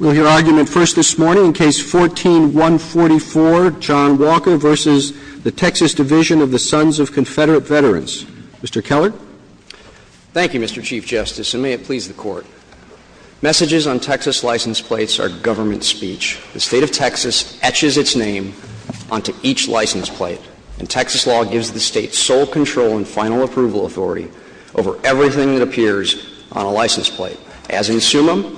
We'll hear argument first this morning in Case No. 14-144, John Walker v. The Texas Division of the Sons of Confederate Veterans. Mr. Keller? Thank you, Mr. Chief Justice, and may it please the Court. Messages on Texas license plates are government speech. The State of Texas etches its name onto each license plate, and Texas law gives the State sole control and final approval authority over everything that appears on a license plate. As in Summa,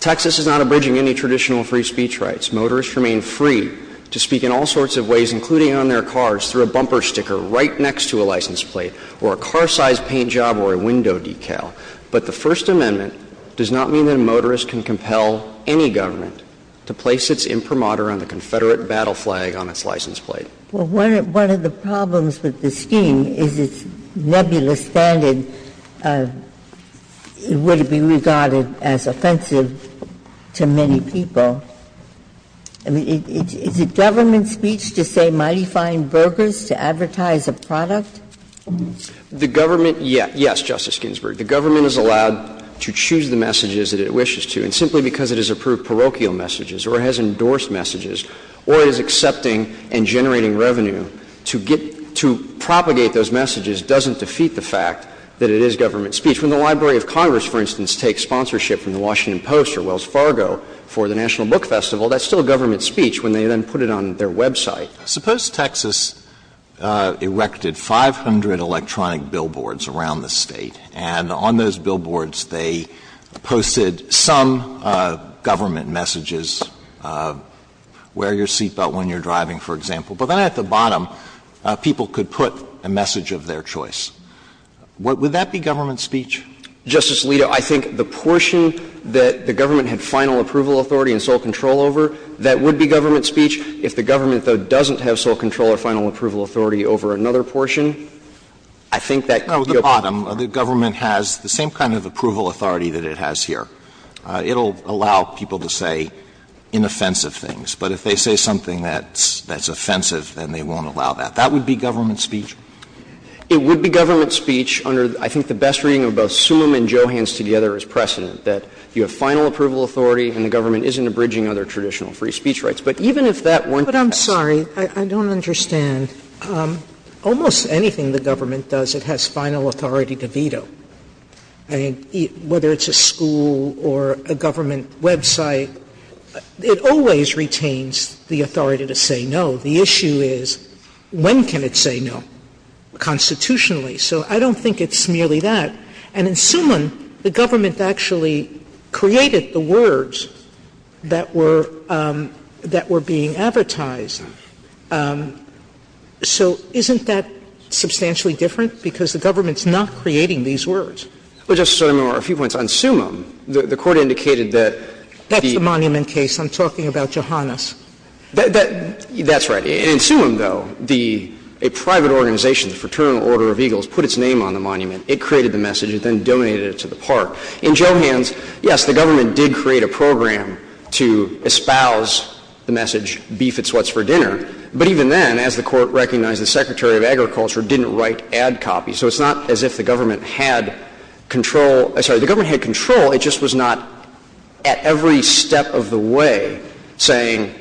Texas is not abridging any traditional free speech rights. Motorists remain free to speak in all sorts of ways, including on their cars, through a bumper sticker right next to a license plate or a car-size paint job or a window decal. But the First Amendment does not mean that a motorist can compel any government to place its imprimatur on the Confederate battle flag on its license plate. Well, one of the problems with the scheme is its nebulous standard. It wouldn't be regarded as offensive to many people. I mean, is it government speech to say Mighty Fine Burgers to advertise a product? The government, yes. Yes, Justice Ginsburg. The government is allowed to choose the messages that it wishes to. And simply because it has approved parochial messages or has endorsed messages or is accepting and generating revenue to get to propagate those messages doesn't defeat the fact that it is government speech. When the Library of Congress, for instance, takes sponsorship from the Washington Post or Wells Fargo for the National Book Festival, that's still government speech when they then put it on their website. Suppose Texas erected 500 electronic billboards around the State, and on those billboards they posted some government messages, wear your seatbelt when you're driving, for example. But then at the bottom, people could put a message of their choice. Would that be government speech? Justice Alito, I think the portion that the government had final approval authority and sole control over, that would be government speech. If the government, though, doesn't have sole control or final approval authority over another portion, I think that could be a problem. Alito, the government has the same kind of approval authority that it has here. It will allow people to say inoffensive things. But if they say something that's offensive, then they won't allow that. That would be government speech? It would be government speech under, I think, the best reading of both Sumum and Johans together as precedent, that you have final approval authority and the government isn't abridging other traditional free speech rights. But even if that weren't Texas. Sotomayor But I'm sorry, I don't understand. Almost anything the government does, it has final authority to veto. I mean, whether it's a school or a government website, it always retains the authority to say no. The issue is, when can it say no constitutionally? So I don't think it's merely that. And in Summon, the government actually created the words that were being advertised to the public. So isn't that substantially different? Because the government's not creating these words. Well, Justice Sotomayor, a few points. On Summon, the Court indicated that the That's the Monument case. I'm talking about Johanas. That's right. In Summon, though, a private organization, the Fraternal Order of Eagles, put its name on the monument. It created the message. It then donated it to the park. In Johans, yes, the government did create a program to espouse the message, beef at Sweat's for dinner. But even then, as the Court recognized, the Secretary of Agriculture didn't write ad copies. So it's not as if the government had control. I'm sorry. The government had control. It just was not at every step of the way saying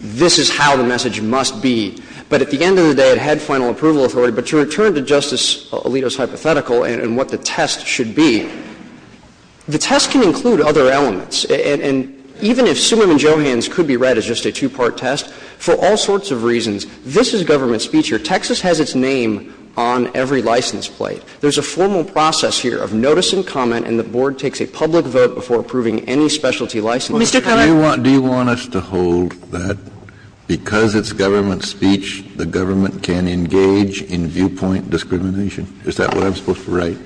this is how the message must be. But at the end of the day, it had final approval authority. But to return to Justice Alito's hypothetical and what the test should be, the test can include other elements. And even if Summon and Johans could be read as just a two-part test, for all sorts of reasons, this is government speech here. Texas has its name on every license plate. There's a formal process here of notice and comment, and the Board takes a public vote before approving any specialty license. Mr. Keller? Do you want us to hold that because it's government speech, the government can engage in viewpoint discrimination? Is that what I'm supposed to write?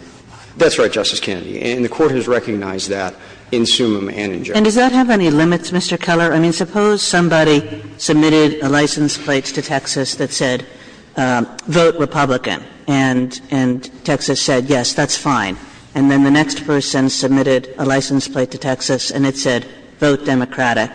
That's right, Justice Kennedy. And the Court has recognized that in Summon and in Johans. And does that have any limits, Mr. Keller? I mean, suppose somebody submitted a license plate to Texas that said, vote Republican, and Texas said, yes, that's fine. And then the next person submitted a license plate to Texas and it said, vote Democratic,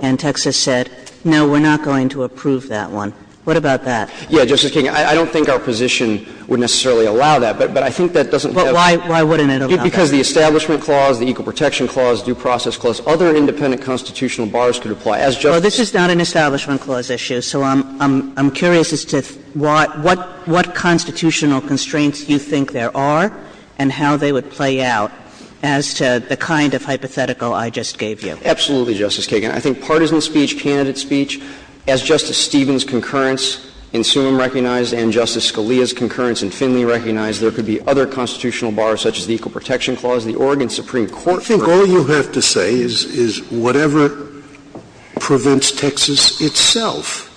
and Texas said, no, we're not going to approve that one. What about that? Yeah, Justice Kagan, I don't think our position would necessarily allow that, but I think that doesn't have to be. Why wouldn't it allow that? Because the Establishment Clause, the Equal Protection Clause, Due Process Clause, other independent constitutional bars could apply. As Justice Kagan said. Well, this is not an Establishment Clause issue, so I'm curious as to what constitutional constraints you think there are and how they would play out as to the kind of hypothetical I just gave you. Absolutely, Justice Kagan. I think partisan speech, candidate speech, as Justice Stevens' concurrence in Summon recognized and Justice Scalia's concurrence in Finley recognized, there could be other constitutional bars, such as the Equal Protection Clause. The Oregon Supreme Court for example. I think all you have to say is whatever prevents Texas itself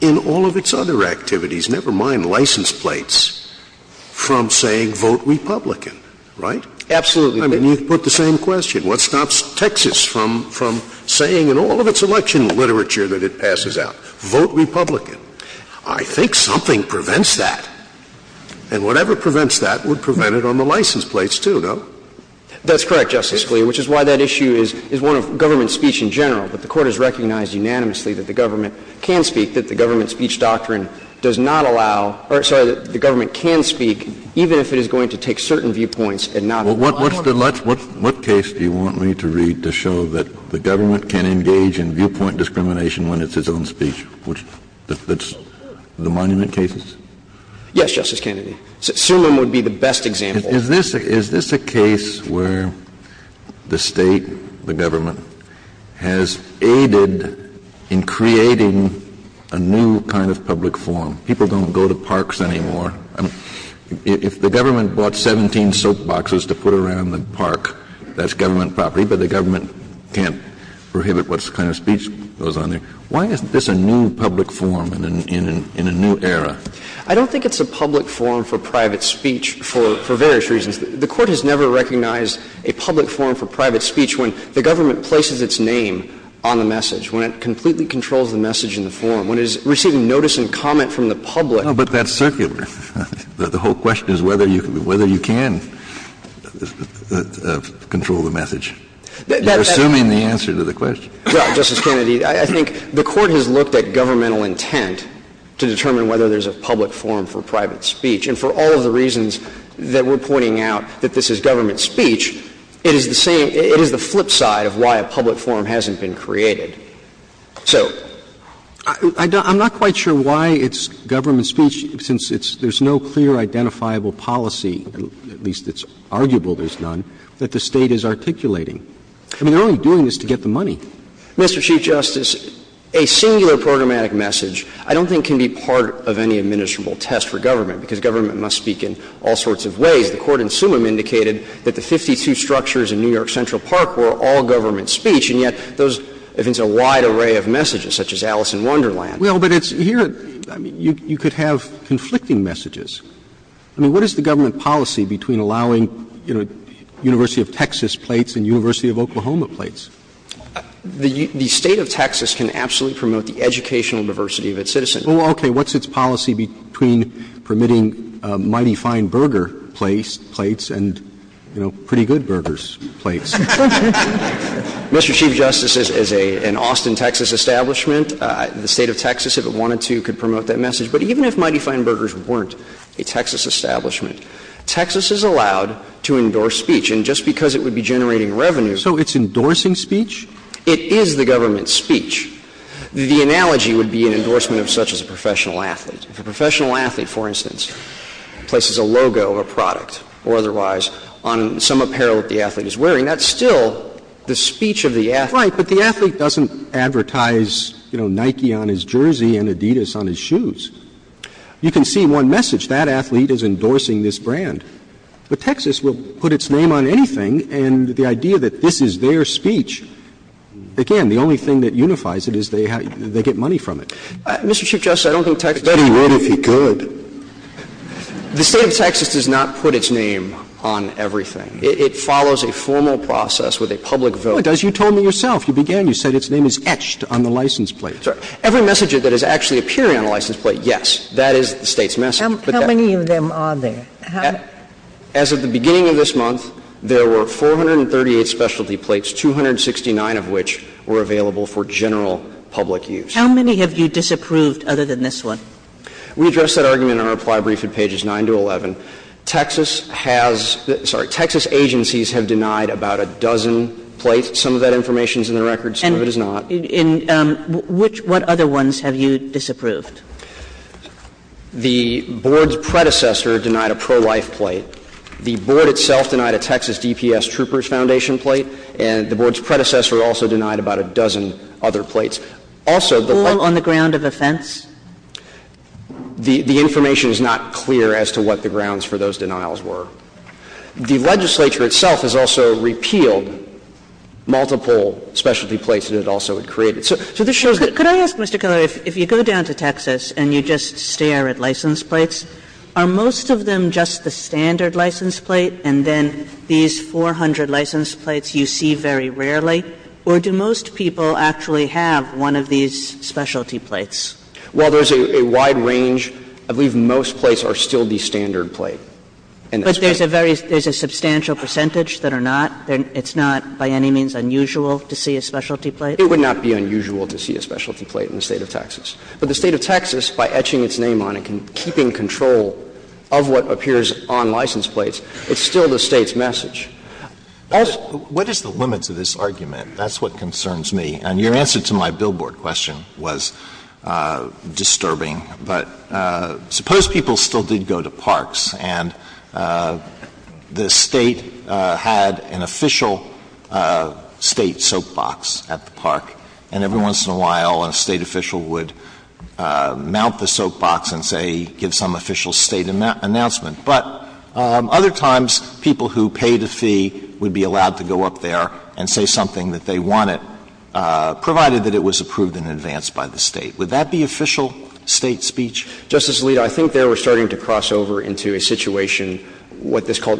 in all of its other activities, never mind license plates, from saying, vote Republican, right? Absolutely. I mean, you put the same question. What stops Texas from saying in all of its election literature that it passes out? Vote Republican. I think something prevents that. And whatever prevents that would prevent it on the license plates, too, no? That's correct, Justice Scalia, which is why that issue is one of government speech in general. But the Court has recognized unanimously that the government can speak, that the government speech doctrine does not allow or, sorry, that the government can speak even if it is going to take certain viewpoints and not allot it. Well, what case do you want me to read to show that the government can engage in viewpoint discrimination when it's its own speech? The monument cases? Yes, Justice Kennedy. Surmon would be the best example. Is this a case where the State, the government, has aided in creating a new kind of public forum? People don't go to parks anymore. If the government bought 17 soap boxes to put around the park, that's government property, but the government can't prohibit what kind of speech goes on there. Why isn't this a new public forum in a new era? I don't think it's a public forum for private speech for various reasons. The Court has never recognized a public forum for private speech when the government places its name on the message, when it completely controls the message in the forum, when it is receiving notice and comment from the public. No, but that's circular. The whole question is whether you can control the message. You're assuming the answer to the question. Well, Justice Kennedy, I think the Court has looked at governmental intent to determine whether there's a public forum for private speech. And for all of the reasons that we're pointing out, that this is government speech, it is the same, it is the flip side of why a public forum hasn't been created. So. I'm not quite sure why it's government speech, since it's, there's no clear identifiable policy, at least it's arguable there's none, that the State is articulating. I mean, they're only doing this to get the money. Mr. Chief Justice, a singular programmatic message I don't think can be part of any administrable test for government, because government must speak in all sorts of ways. The Court in Summum indicated that the 52 structures in New York Central Park were all government speech, and yet those, it's a wide array of messages, such as Alice in Wonderland. Well, but it's here, I mean, you could have conflicting messages. I mean, what is the government policy between allowing, you know, University of Texas plates and University of Oklahoma plates? The State of Texas can absolutely promote the educational diversity of its citizens. Well, okay. What's its policy between permitting Mighty Fine Burger plates and, you know, Pretty Good Burgers plates? Mr. Chief Justice, as an Austin, Texas establishment, the State of Texas, if it wanted to, could promote that message. But even if Mighty Fine Burgers weren't a Texas establishment, Texas is allowed to endorse speech. And just because it would be generating revenue. So it's endorsing speech? It is the government's speech. The analogy would be an endorsement of such as a professional athlete. If a professional athlete, for instance, places a logo of a product or otherwise on some apparel that the athlete is wearing, that's still the speech of the athlete. Right, but the athlete doesn't advertise, you know, Nike on his jersey and Adidas on his shoes. You can see one message, that athlete is endorsing this brand. But Texas will put its name on anything, and the idea that this is their speech, again, the only thing that unifies it is they get money from it. Mr. Chief Justice, I don't think Texas would. But he would if he could. The State of Texas does not put its name on everything. It follows a formal process with a public vote. Well, it does. You told me yourself. You began, you said its name is etched on the license plate. Every message that is actually appearing on a license plate, yes, that is the State's message. How many of them are there? As of the beginning of this month, there were 438 specialty plates, 269 of which were available for general public use. How many have you disapproved other than this one? We addressed that argument in our reply brief at pages 9 to 11. Texas has the – sorry, Texas agencies have denied about a dozen plates. Some of that information is in the records, some of it is not. And in which – what other ones have you disapproved? The Board's predecessor denied a pro-life plate. The Board itself denied a Texas DPS Trooper's Foundation plate. And the Board's predecessor also denied about a dozen other plates. Also, the – All on the ground of offense? The information is not clear as to what the grounds for those denials were. The legislature itself has also repealed multiple specialty plates that it also had created. So this shows that – Could I ask, Mr. Kelley, if you go down to Texas and you just stare at license plates, are most of them just the standard license plate, and then these 400 license plates you see very rarely, or do most people actually have one of these specialty plates? Well, there's a wide range. I believe most plates are still the standard plate. But there's a very – there's a substantial percentage that are not. It's not by any means unusual to see a specialty plate. It would not be unusual to see a specialty plate in the State of Texas. But the State of Texas, by etching its name on it and keeping control of what appears on license plates, it's still the State's message. What is the limits of this argument? That's what concerns me. And your answer to my billboard question was disturbing. But suppose people still did go to parks and the State had an official State soap box at the park, and every once in a while a State official would mount the soap box and, say, give some official State announcement. But other times, people who paid a fee would be allowed to go up there and say something that they wanted, provided that it was approved in advance by the State. Would that be official State speech? Justice Alito, I think there we're starting to cross over into a situation what this Court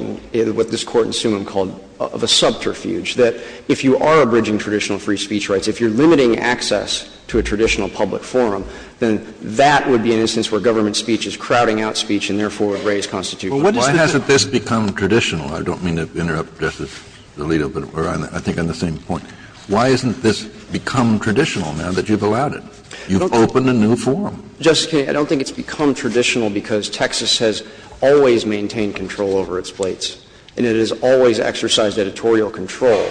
in Summa called of a subterfuge, that if you are abridging traditional free speech rights, if you're limiting access to a traditional public forum, then that would be an instance where government speech is crowding out speech and therefore would raise constitutional differences. Kennedy, I don't think it's become traditional because Texas has always maintained control over its plates, and it has always exercised editorial control.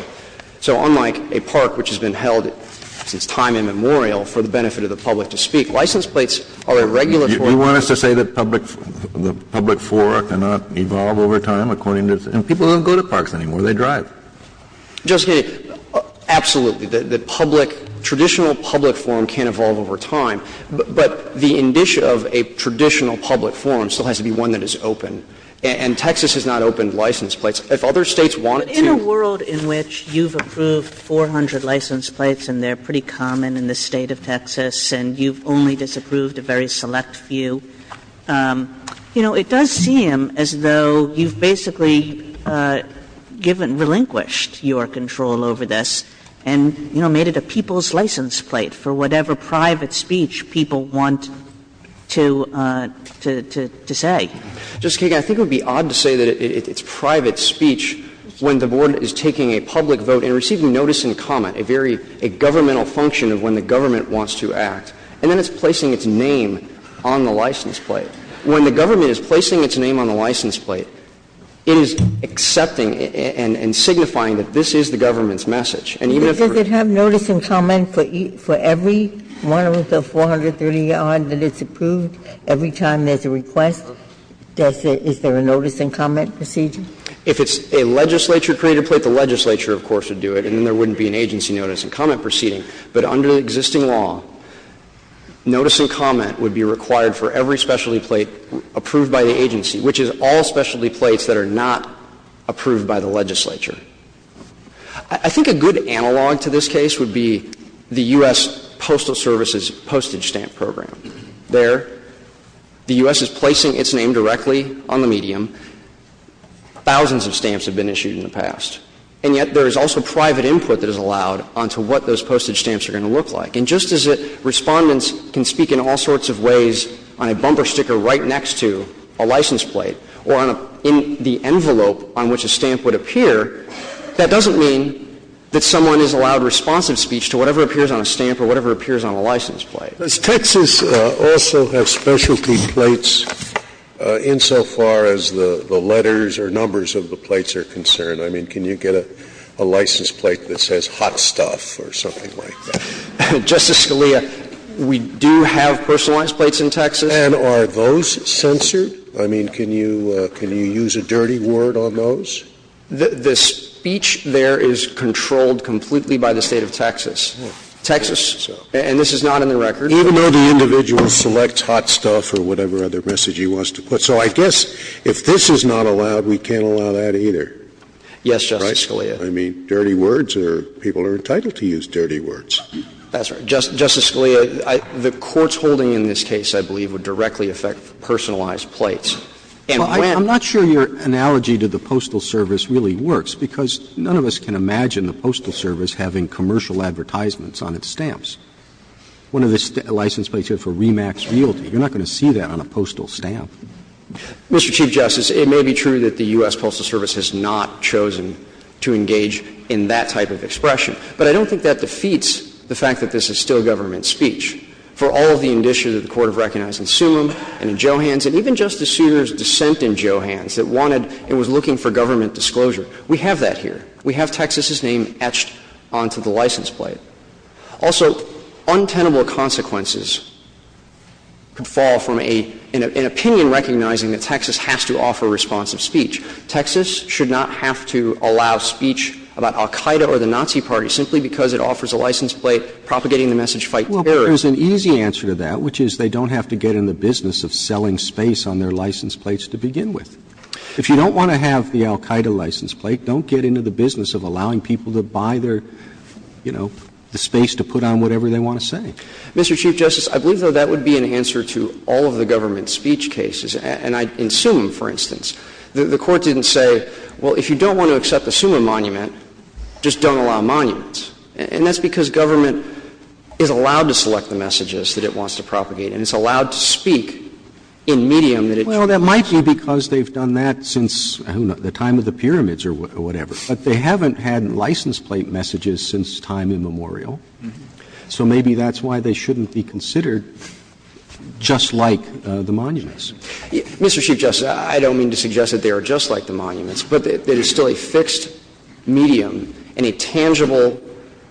So unlike a park which has been held since time immemorial for the benefit of the public to speak, license plates are a regulatory. You want us to say that public forum cannot evolve over time according to the State? And people don't go to parks anymore. They drive. Justice Kennedy, absolutely. The public, traditional public forum can evolve over time. But the indicia of a traditional public forum still has to be one that is open. And Texas has not opened license plates. If other States wanted to. Kagan, in a world in which you've approved 400 license plates and they're pretty common in the State of Texas and you've only disapproved a very select few, you know, it does seem as though you've basically given, relinquished your control over this and, you know, made it a people's license plate for whatever private speech people want to say. Justice Kagan, I think it would be odd to say that it's private speech when the public is taking a public vote and receiving notice and comment, a very governmental function of when the government wants to act, and then it's placing its name on the license plate. When the government is placing its name on the license plate, it is accepting and signifying that this is the government's message. And even if it's for you. Ginsburg, does it have notice and comment for every one of the 430-odd that it's approved every time there's a request? Is there a notice and comment procedure? If it's a legislature-created plate, the legislature, of course, would do it, and then there wouldn't be an agency notice and comment proceeding. But under existing law, notice and comment would be required for every specialty plate approved by the agency, which is all specialty plates that are not approved by the legislature. I think a good analog to this case would be the U.S. Postal Service's postage stamp program. There, the U.S. is placing its name directly on the medium. Thousands of stamps have been issued in the past. And yet there is also private input that is allowed onto what those postage stamps are going to look like. And just as Respondents can speak in all sorts of ways on a bumper sticker right next to a license plate or on a — in the envelope on which a stamp would appear, that doesn't mean that someone is allowed responsive speech to whatever appears on a stamp or whatever appears on a license plate. Scalia, does Texas also have specialty plates insofar as the letters or numbers of the plates are concerned? I mean, can you get a license plate that says hot stuff or something like that? Justice Scalia, we do have personalized plates in Texas. And are those censored? I mean, can you use a dirty word on those? The speech there is controlled completely by the State of Texas. Texas, and this is not in the record. Even though the individual selects hot stuff or whatever other message he wants to put. So I guess if this is not allowed, we can't allow that either. Yes, Justice Scalia. I mean, dirty words are — people are entitled to use dirty words. That's right. Justice Scalia, the courts holding in this case, I believe, would directly affect personalized plates. And when — I'm not sure your analogy to the Postal Service really works, because none of us can see the word personalized on its stamps. One of the license plates here for Remax Realty, you're not going to see that on a postal stamp. Mr. Chief Justice, it may be true that the U.S. Postal Service has not chosen to engage in that type of expression, but I don't think that defeats the fact that this is still government speech. For all of the indicia that the Court of Recognizing Summum and in Johans and even Justice Souter's dissent in Johans that wanted and was looking for government disclosure, we have that here. We have Texas's name etched onto the license plate. Also, untenable consequences could fall from an opinion recognizing that Texas has to offer responsive speech. Texas should not have to allow speech about al-Qaida or the Nazi Party simply because it offers a license plate propagating the message, fight terror. Well, there's an easy answer to that, which is they don't have to get in the business of selling space on their license plates to begin with. If you don't want to have the al-Qaida license plate, don't get into the business of allowing people to buy their, you know, the space to put on whatever they want to say. Mr. Chief Justice, I believe, though, that would be an answer to all of the government speech cases, and in Summum, for instance. The Court didn't say, well, if you don't want to accept the Summum monument, just don't allow monuments. And that's because government is allowed to select the messages that it wants to propagate and it's allowed to speak in medium that it chooses. Well, that might be because they've done that since the time of the pyramids or whatever. But they haven't had license plate messages since time immemorial, so maybe that's why they shouldn't be considered just like the monuments. Mr. Chief Justice, I don't mean to suggest that they are just like the monuments, but that it's still a fixed medium and a tangible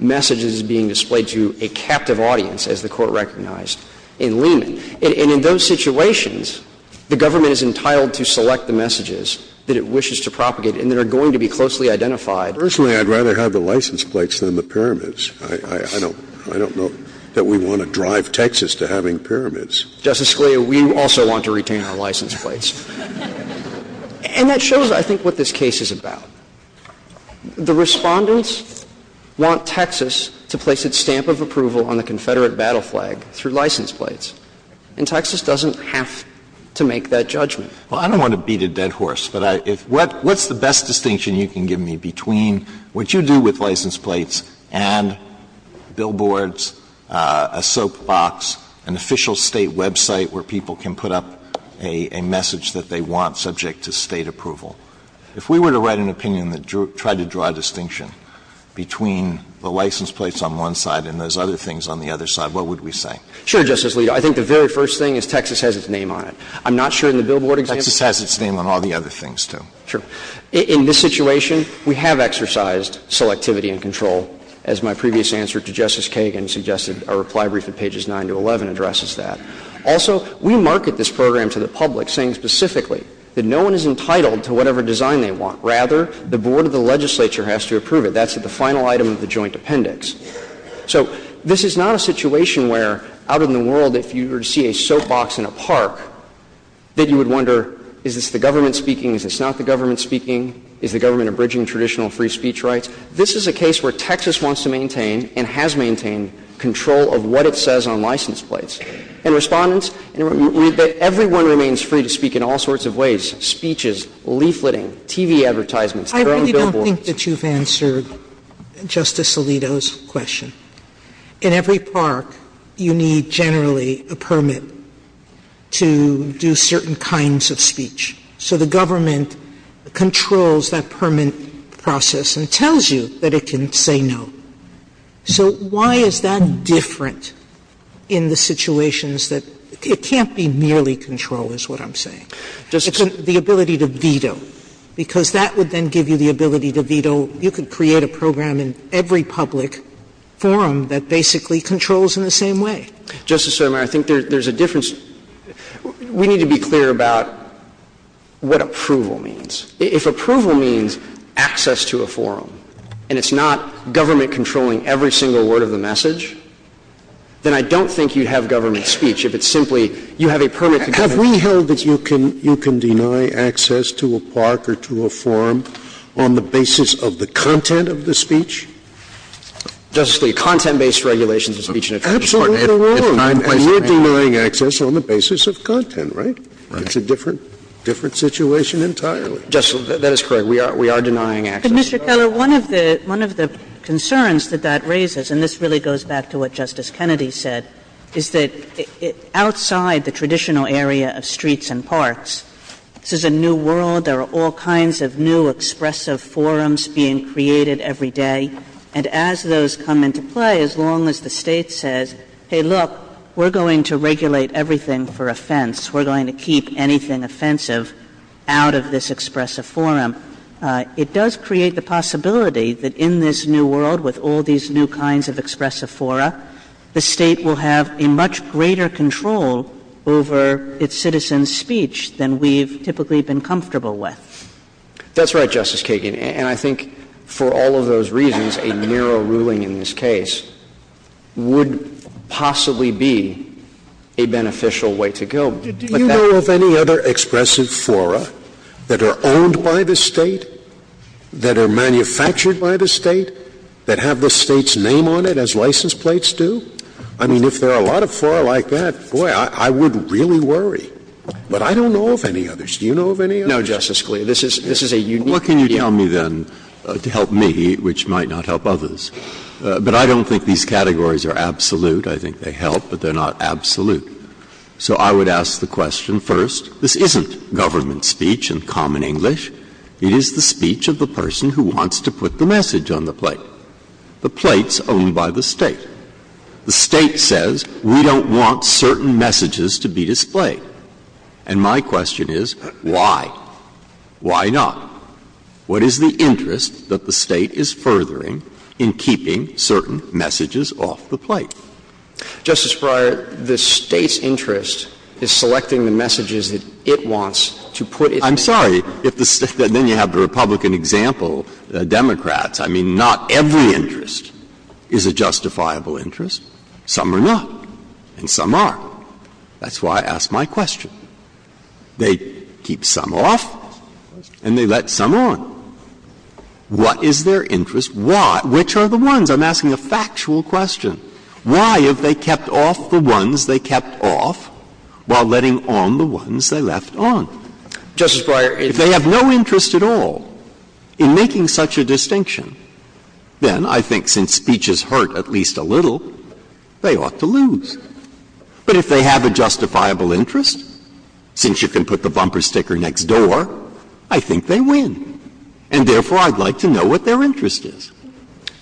message that is being displayed to a captive audience, as the Court recognized in Lehman. And in those situations, the government is entitled to select the messages that it wishes to propagate and that are going to be closely identified. Personally, I'd rather have the license plates than the pyramids. I don't know that we want to drive Texas to having pyramids. Justice Scalia, we also want to retain our license plates. And that shows, I think, what this case is about. The Respondents want Texas to place its stamp of approval on the Confederate battle flag through license plates. And Texas doesn't have to make that judgment. Alito, I don't want to beat a dead horse, but if what's the best distinction you can give me between what you do with license plates and billboards, a soapbox, an official State website where people can put up a message that they want subject to State approval? If we were to write an opinion that tried to draw a distinction between the license plates on one side and those other things on the other side, what would we say? Sure, Justice Alito. I think the very first thing is Texas has its name on it. I'm not sure in the billboard example. Texas has its name on all the other things, too. Sure. In this situation, we have exercised selectivity and control, as my previous answer to Justice Kagan suggested, our reply brief at pages 9 to 11 addresses that. Also, we market this program to the public, saying specifically that no one is entitled to whatever design they want. Rather, the board of the legislature has to approve it. That's the final item of the joint appendix. So this is not a situation where, out in the world, if you were to see a soapbox in a park, that you would wonder, is this the government speaking, is this not the government speaking, is the government abridging traditional free speech rights? This is a case where Texas wants to maintain and has maintained control of what it says on license plates. And Respondents, everyone remains free to speak in all sorts of ways, speeches, leafleting, TV advertisements, their own billboards. Sotomayor, I think that you've answered Justice Alito's question. In every park, you need generally a permit to do certain kinds of speech. So the government controls that permit process and tells you that it can say no. So why is that different in the situations that – it can't be merely control, is what I'm saying. It's the ability to veto. Because that would then give you the ability to veto – you could create a program in every public forum that basically controls in the same way. Justice Sotomayor, I think there's a difference. We need to be clear about what approval means. If approval means access to a forum and it's not government controlling every single word of the message, then I don't think you'd have government speech. If it's simply, you have a permit to government speech. Scalia, have we held that you can deny access to a park or to a forum on the basis of the content of the speech? Justice Scalia, content-based regulations of speech and attrition are important. Absolutely, they're wrong. And you're denying access on the basis of content, right? Right. It's a different situation entirely. Justice, that is correct. We are denying access. But, Mr. Keller, one of the concerns that that raises, and this really goes back to what Justice Kennedy said, is that outside the traditional area of streets and parks, this is a new world. There are all kinds of new expressive forums being created every day. And as those come into play, as long as the State says, hey, look, we're going to regulate everything for offense, we're going to keep anything offensive out of this expressive forum, it does create the possibility that in this new world, with all these new kinds of expressive fora, the State will have a much greater control over its citizens' speech than we've typically been comfortable with. That's right, Justice Kagan. And I think for all of those reasons, a narrow ruling in this case would possibly be a beneficial way to go. Do you know of any other expressive fora that are owned by the State, that are manufactured by the State, that have the State's name on it, as license plates do? I mean, if there are a lot of fora like that, boy, I would really worry. But I don't know of any others. Do you know of any others? No, Justice Scalia. This is a unique view. Well, what can you tell me, then, to help me, which might not help others? But I don't think these categories are absolute. I think they help, but they're not absolute. So I would ask the question, first, this isn't government speech in common English. It is the speech of the person who wants to put the message on the plate. The plate's owned by the State. The State says, we don't want certain messages to be displayed. And my question is, why? Why not? What is the interest that the State is furthering in keeping certain messages off the plate? Justice Breyer, the State's interest is selecting the messages that it wants to put in. I'm sorry if the State then you have the Republican example, the Democrats. I mean, not every interest is a justifiable interest. Some are not, and some are. That's why I ask my question. They keep some off and they let some on. What is their interest? Why? Which are the ones? I'm asking a factual question. Why have they kept off the ones they kept off while letting on the ones they left on? Justice Breyer, if they have no interest at all in making such a distinction, then I think since speeches hurt at least a little, they ought to lose. But if they have a justifiable interest, since you can put the bumper sticker next door, I think they win. And therefore, I'd like to know what their interest is.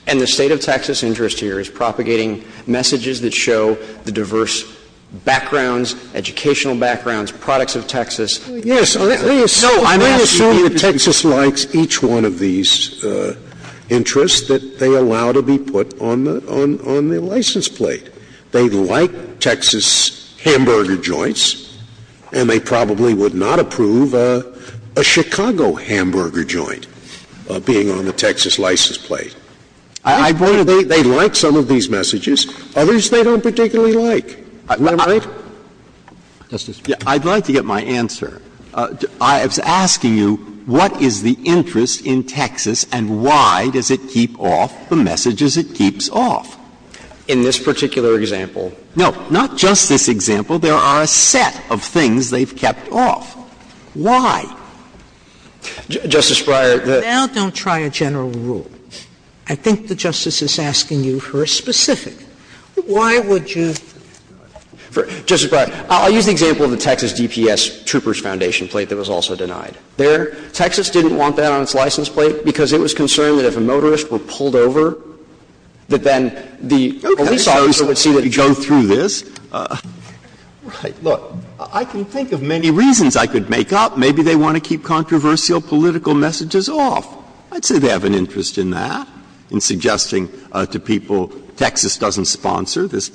And the State of Texas' interest here is propagating messages that show the diverse backgrounds, educational backgrounds, products of Texas. Yes. No, I'm asking you to be brief. Let me assume that Texas likes each one of these interests, that they allow to be put on the license plate. They like Texas hamburger joints, and they probably would not approve a Chicago hamburger joint being on the Texas license plate. I think they like some of these messages. Others they don't particularly like. Am I right? Justice Breyer. I'd like to get my answer. I was asking you what is the interest in Texas and why does it keep off the messages it keeps off? In this particular example. No. Not just this example. There are a set of things they've kept off. Why? Justice Breyer, the — Now don't try a general rule. I think the Justice is asking you for a specific. Why would you — Justice Breyer, I'll use the example of the Texas DPS Troopers Foundation plate that was also denied. There, Texas didn't want that on its license plate because it was concerned that if a motorist were pulled over, that then the police officer would see that the driver— Go through this. Right. Look, I can think of many reasons I could make up. Maybe they want to keep controversial political messages off. I'd say they have an interest in that, in suggesting to people Texas doesn't sponsor this.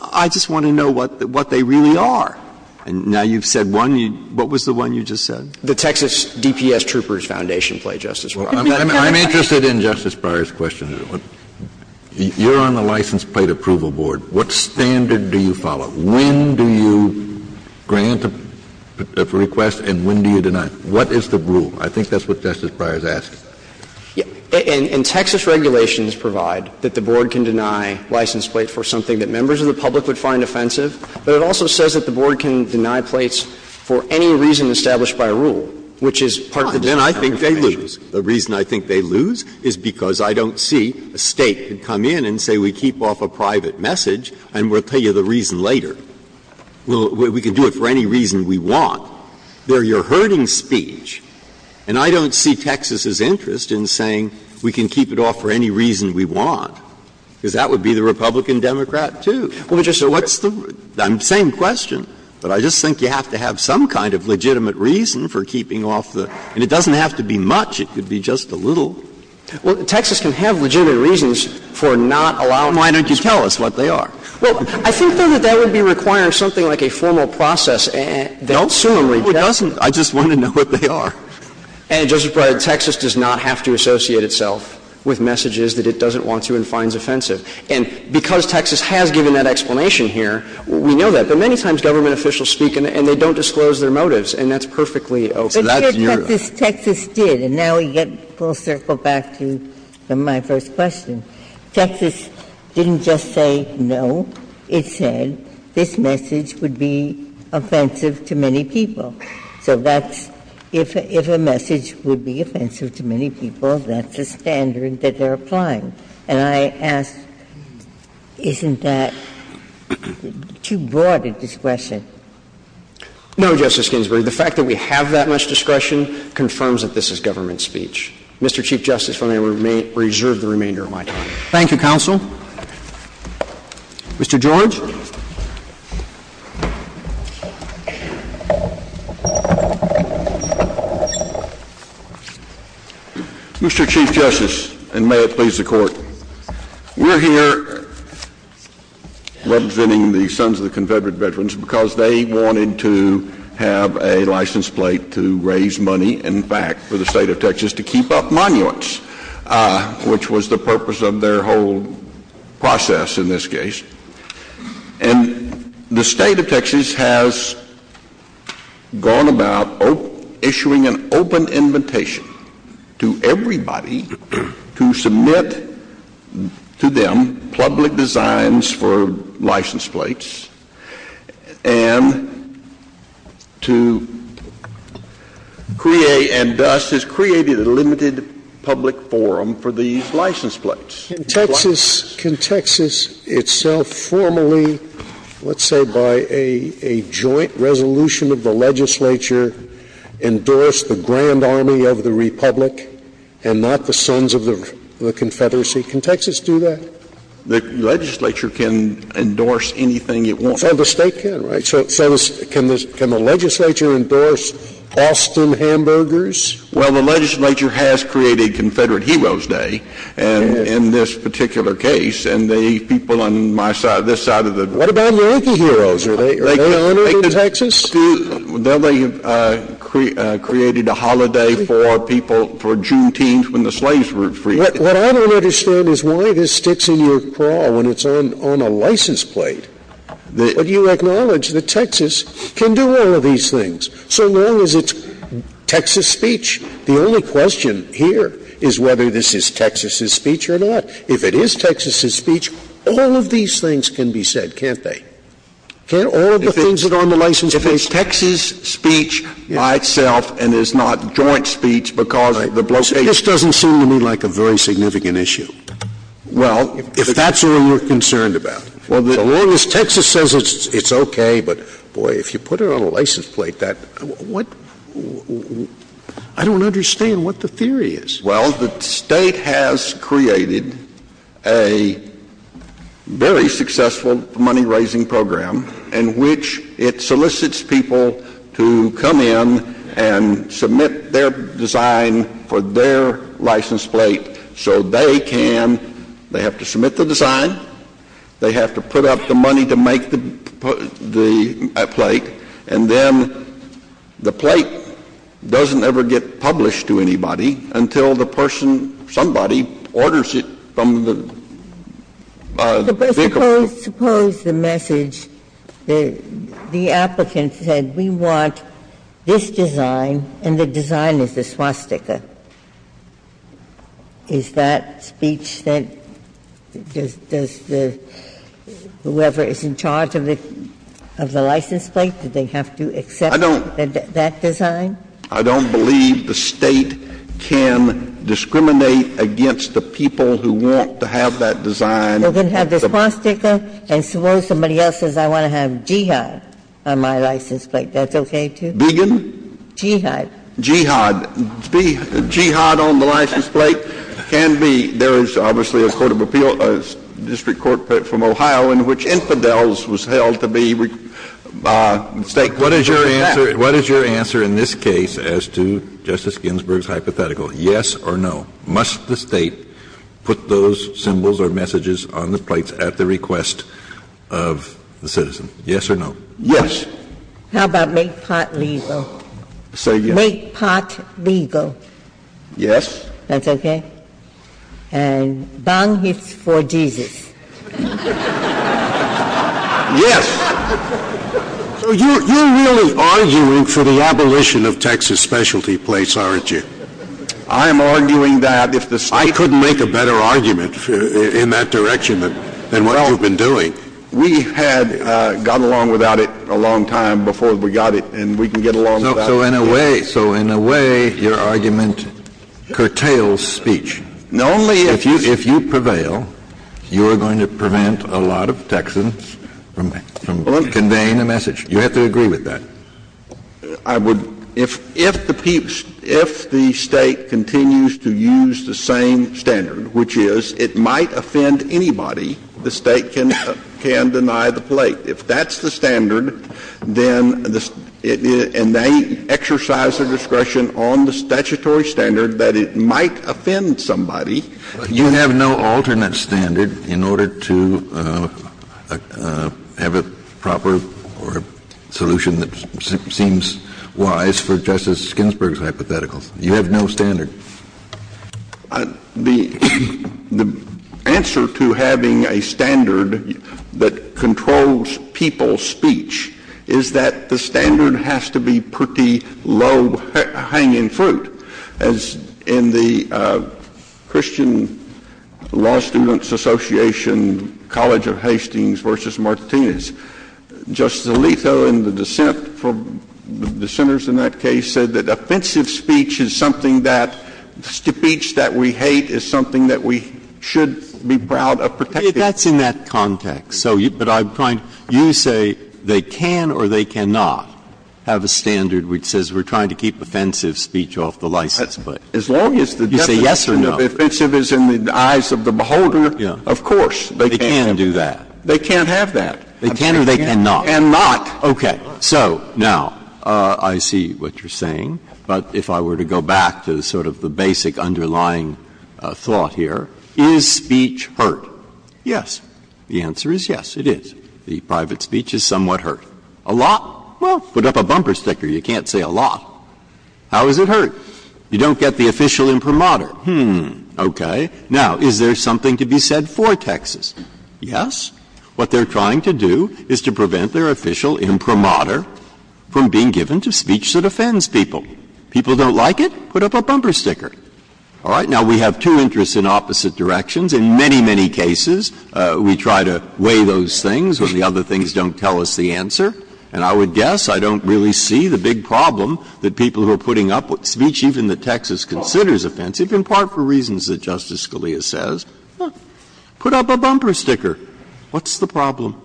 I just want to know what they really are. And now you've said one. What was the one you just said? The Texas DPS Troopers Foundation plate, Justice Breyer. I'm interested in Justice Breyer's question. You're on the license plate approval board. What standard do you follow? When do you grant a request and when do you deny? What is the rule? I think that's what Justice Breyer is asking. And Texas regulations provide that the board can deny license plates for something that members of the public would find offensive, but it also says that the board can deny plates for any reason established by a rule, which is part of the disenfranchisement issue. Breyer. The reason I think they lose is because I don't see a State could come in and say we keep off a private message and we'll tell you the reason later. We can do it for any reason we want. They're your herding speech, and I don't see Texas's interest in saying we can keep it off for any reason we want, because that would be the Republican Democrat too. What's the same question, but I just think you have to have some kind of legitimate reason for keeping off the and it doesn't have to be much. It could be just a little. Well, Texas can have legitimate reasons for not allowing us to keep it off. Why don't you tell us what they are? Well, I think, though, that that would be requiring something like a formal process and they don't seem to reject it. No, it doesn't. I just want to know what they are. And, Justice Breyer, Texas does not have to associate itself with messages that it doesn't want to and finds offensive. And because Texas has given that explanation here, we know that. But many times government officials speak and they don't disclose their motives and that's perfectly okay. So that's your question. But, Justice, Texas did, and now we get full circle back to my first question. Texas didn't just say no, it said this message would be offensive to many people. So that's, if a message would be offensive to many people, that's a standard that they're applying. And I ask, isn't that too broad a discretion? No, Justice Ginsburg. The fact that we have that much discretion confirms that this is government speech. Mr. Chief Justice, if I may, I will reserve the remainder of my time. Thank you, counsel. Mr. George. Mr. Chief Justice, and may it please the Court, we're here representing the Sons of the Confederate Veterans because they wanted to have a license plate to raise money, in fact, for the State of Texas to keep up monuments, which was the purpose of their whole process in this case. And the State of Texas has gone about issuing an open invitation to everybody to submit to them public designs for license plates and to create, and thus has created a limited public forum for these license plates. In Texas, can Texas itself formally, let's say by a joint resolution of the legislature, endorse the Grand Army of the Republic and not the Sons of the Confederacy? Can Texas do that? The legislature can endorse anything it wants. So the State can, right? So can the legislature endorse Austin Hamburgers? Well, the legislature has created Confederate Heroes Day in this particular case, and the people on my side, this side of the room. What about Yankee heroes? Are they honored in Texas? They have created a holiday for people, for Juneteenth when the slaves were freed. What I don't understand is why this sticks in your craw when it's on a license plate. But you acknowledge that Texas can do all of these things, so long as it's Texas speech. The only question here is whether this is Texas's speech or not. If it is Texas's speech, all of these things can be said, can't they? Can't all of the things that are on the license plate be said? If it's Texas speech by itself and is not joint speech because the blockade This doesn't seem to me like a very significant issue. Well, if that's what you're concerned about. Well, as long as Texas says it's okay, but boy, if you put it on a license plate, that what I don't understand what the theory is. Well, the state has created a very successful money raising program in which it solicits people to come in and submit their design for their license plate. So they can, they have to submit the design, they have to put up the money to make the plate, and then the plate doesn't ever get published to anybody until the person or somebody orders it from the vehicle. Suppose the message, the applicant said we want this design and the design is a swastika. Is that speech that does the whoever is in charge of the license plate, do they have to accept that design? I don't believe the State can discriminate against the people who want to have that design. They're going to have this swastika, and suppose somebody else says I want to have jihad on my license plate, that's okay, too? Began? Jihad. Jihad. Jihad on the license plate can be, there is obviously a court of appeal, a district court from Ohio in which infidels was held to be state court of appeals. What is your answer in this case as to Justice Ginsburg's hypothetical, yes or no? Must the State put those symbols or messages on the plates at the request of the citizen, yes or no? Yes. How about make pot legal? Say yes. Make pot legal. Yes. That's okay? And bang it for Jesus. Yes. So you're really arguing for the abolition of Texas specialty plates, aren't you? I am arguing that if the State could make a better argument in that direction than what you've been doing. We had gotten along without it a long time before we got it, and we can get along without it. So in a way, your argument curtails speech. Only if you prevail, you are going to prevent a lot of Texans from conveying a message. You have to agree with that. I would, if the State continues to use the same standard, which is it might offend anybody, the State can deny the plate. If that's the standard, then the — and they exercise their discretion on the statutory standard that it might offend somebody. You have no alternate standard in order to have a proper solution that seems wise for Justice Ginsburg's hypotheticals. You have no standard. The answer to having a standard that controls people's speech is that the standard has to be pretty low-hanging fruit. As in the Christian Law Students Association College of Hastings v. Martinez, Justice Alito and the dissent from — the dissenters in that case said that offensive speech is something that — speech that we hate is something that we should be proud of protecting. Breyer. That's in that context. So you — but I'm trying — you say they can or they cannot have a standard which says we're trying to keep offensive speech off the license plate. As long as the definition of offensive is in the eyes of the beholder, of course they can. They can do that. They can't have that. They can or they cannot. And not. Okay. So, now, I see what you're saying, but if I were to go back to sort of the basic underlying thought here, is speech heard? Yes. The answer is yes, it is. The private speech is somewhat heard. A lot? Well, put up a bumper sticker. You can't say a lot. How is it heard? You don't get the official imprimatur. Hmm. Okay. Now, is there something to be said for Texas? Yes. What they're trying to do is to prevent their official imprimatur from being given to speech that offends people. People don't like it? Put up a bumper sticker. All right? Now, we have two interests in opposite directions. In many, many cases, we try to weigh those things when the other things don't tell us the answer. And I would guess I don't really see the big problem that people who are putting up speech even that Texas considers offensive, in part for reasons that Justice Scalia says. Put up a bumper sticker. What's the problem?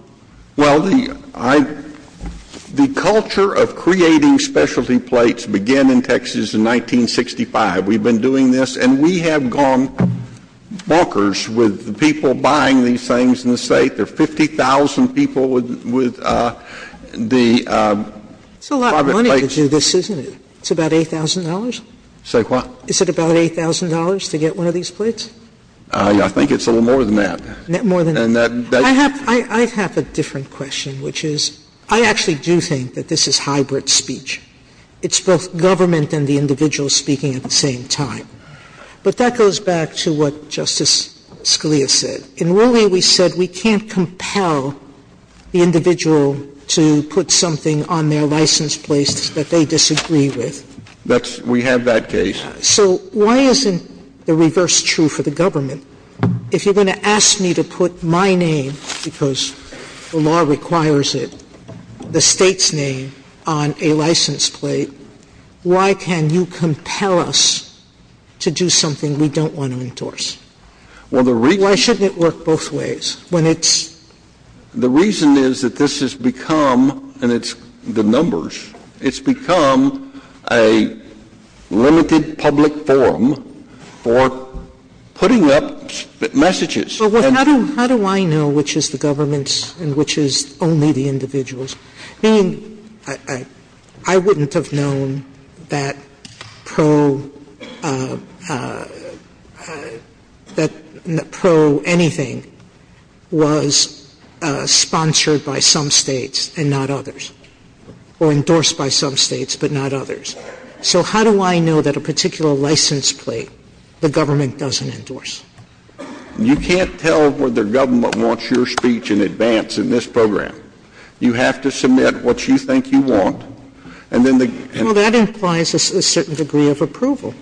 Well, the culture of creating specialty plates began in Texas in 1965. We've been doing this, and we have gone bonkers with the people buying these things in the State. There are 50,000 people with the private plates. It's a lot of money to do this, isn't it? It's about $8,000? Say what? Is it about $8,000 to get one of these plates? I think it's a little more than that. More than that? I have a different question, which is I actually do think that this is hybrid speech. It's both government and the individual speaking at the same time. But that goes back to what Justice Scalia said. In Rooley, we said we can't compel the individual to put something on their license plates that they disagree with. That's – we have that case. So why isn't the reverse true for the government? And if you're going to ask me to put my name, because the law requires it, the State's name on a license plate, why can't you compel us to do something we don't want to endorse? Well, the reason is that this has become – and it's the numbers – it's become a limited public forum for putting up messages. But how do I know which is the government's and which is only the individual's? I mean, I wouldn't have known that pro – that pro anything was sponsored by some States, but not others. So how do I know that a particular license plate the government doesn't endorse? You can't tell whether government wants your speech in advance in this program. You have to submit what you think you want. And then the – Well, that implies a certain degree of approval.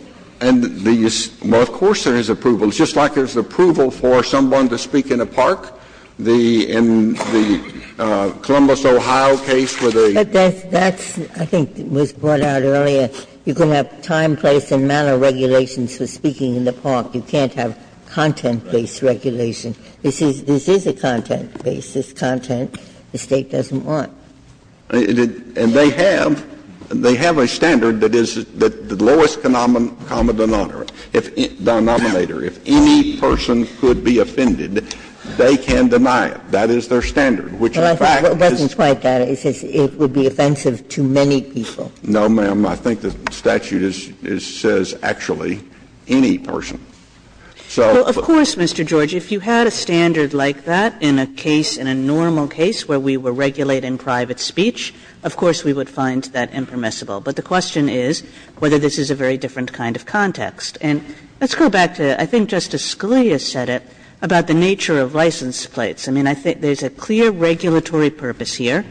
And the – well, of course there is approval. It's just like there's approval for someone to speak in a park. The – in the Columbus, Ohio case where they – But that's – that's, I think, was brought out earlier. You can have time, place, and manner regulations for speaking in the park. You can't have content-based regulation. This is – this is a content-based. It's content the State doesn't want. And they have – they have a standard that is the lowest common denominator. If any person could be offended, they can deny it. That is their standard, which in fact is – It wasn't quite that. It says it would be offensive to many people. No, ma'am. I think the statute is – says actually any person. So – Well, of course, Mr. George. If you had a standard like that in a case, in a normal case where we were regulating private speech, of course we would find that impermissible. But the question is whether this is a very different kind of context. And let's go back to – I think Justice Scalia said it about the nature of license plates. I mean, I think there's a clear regulatory purpose here.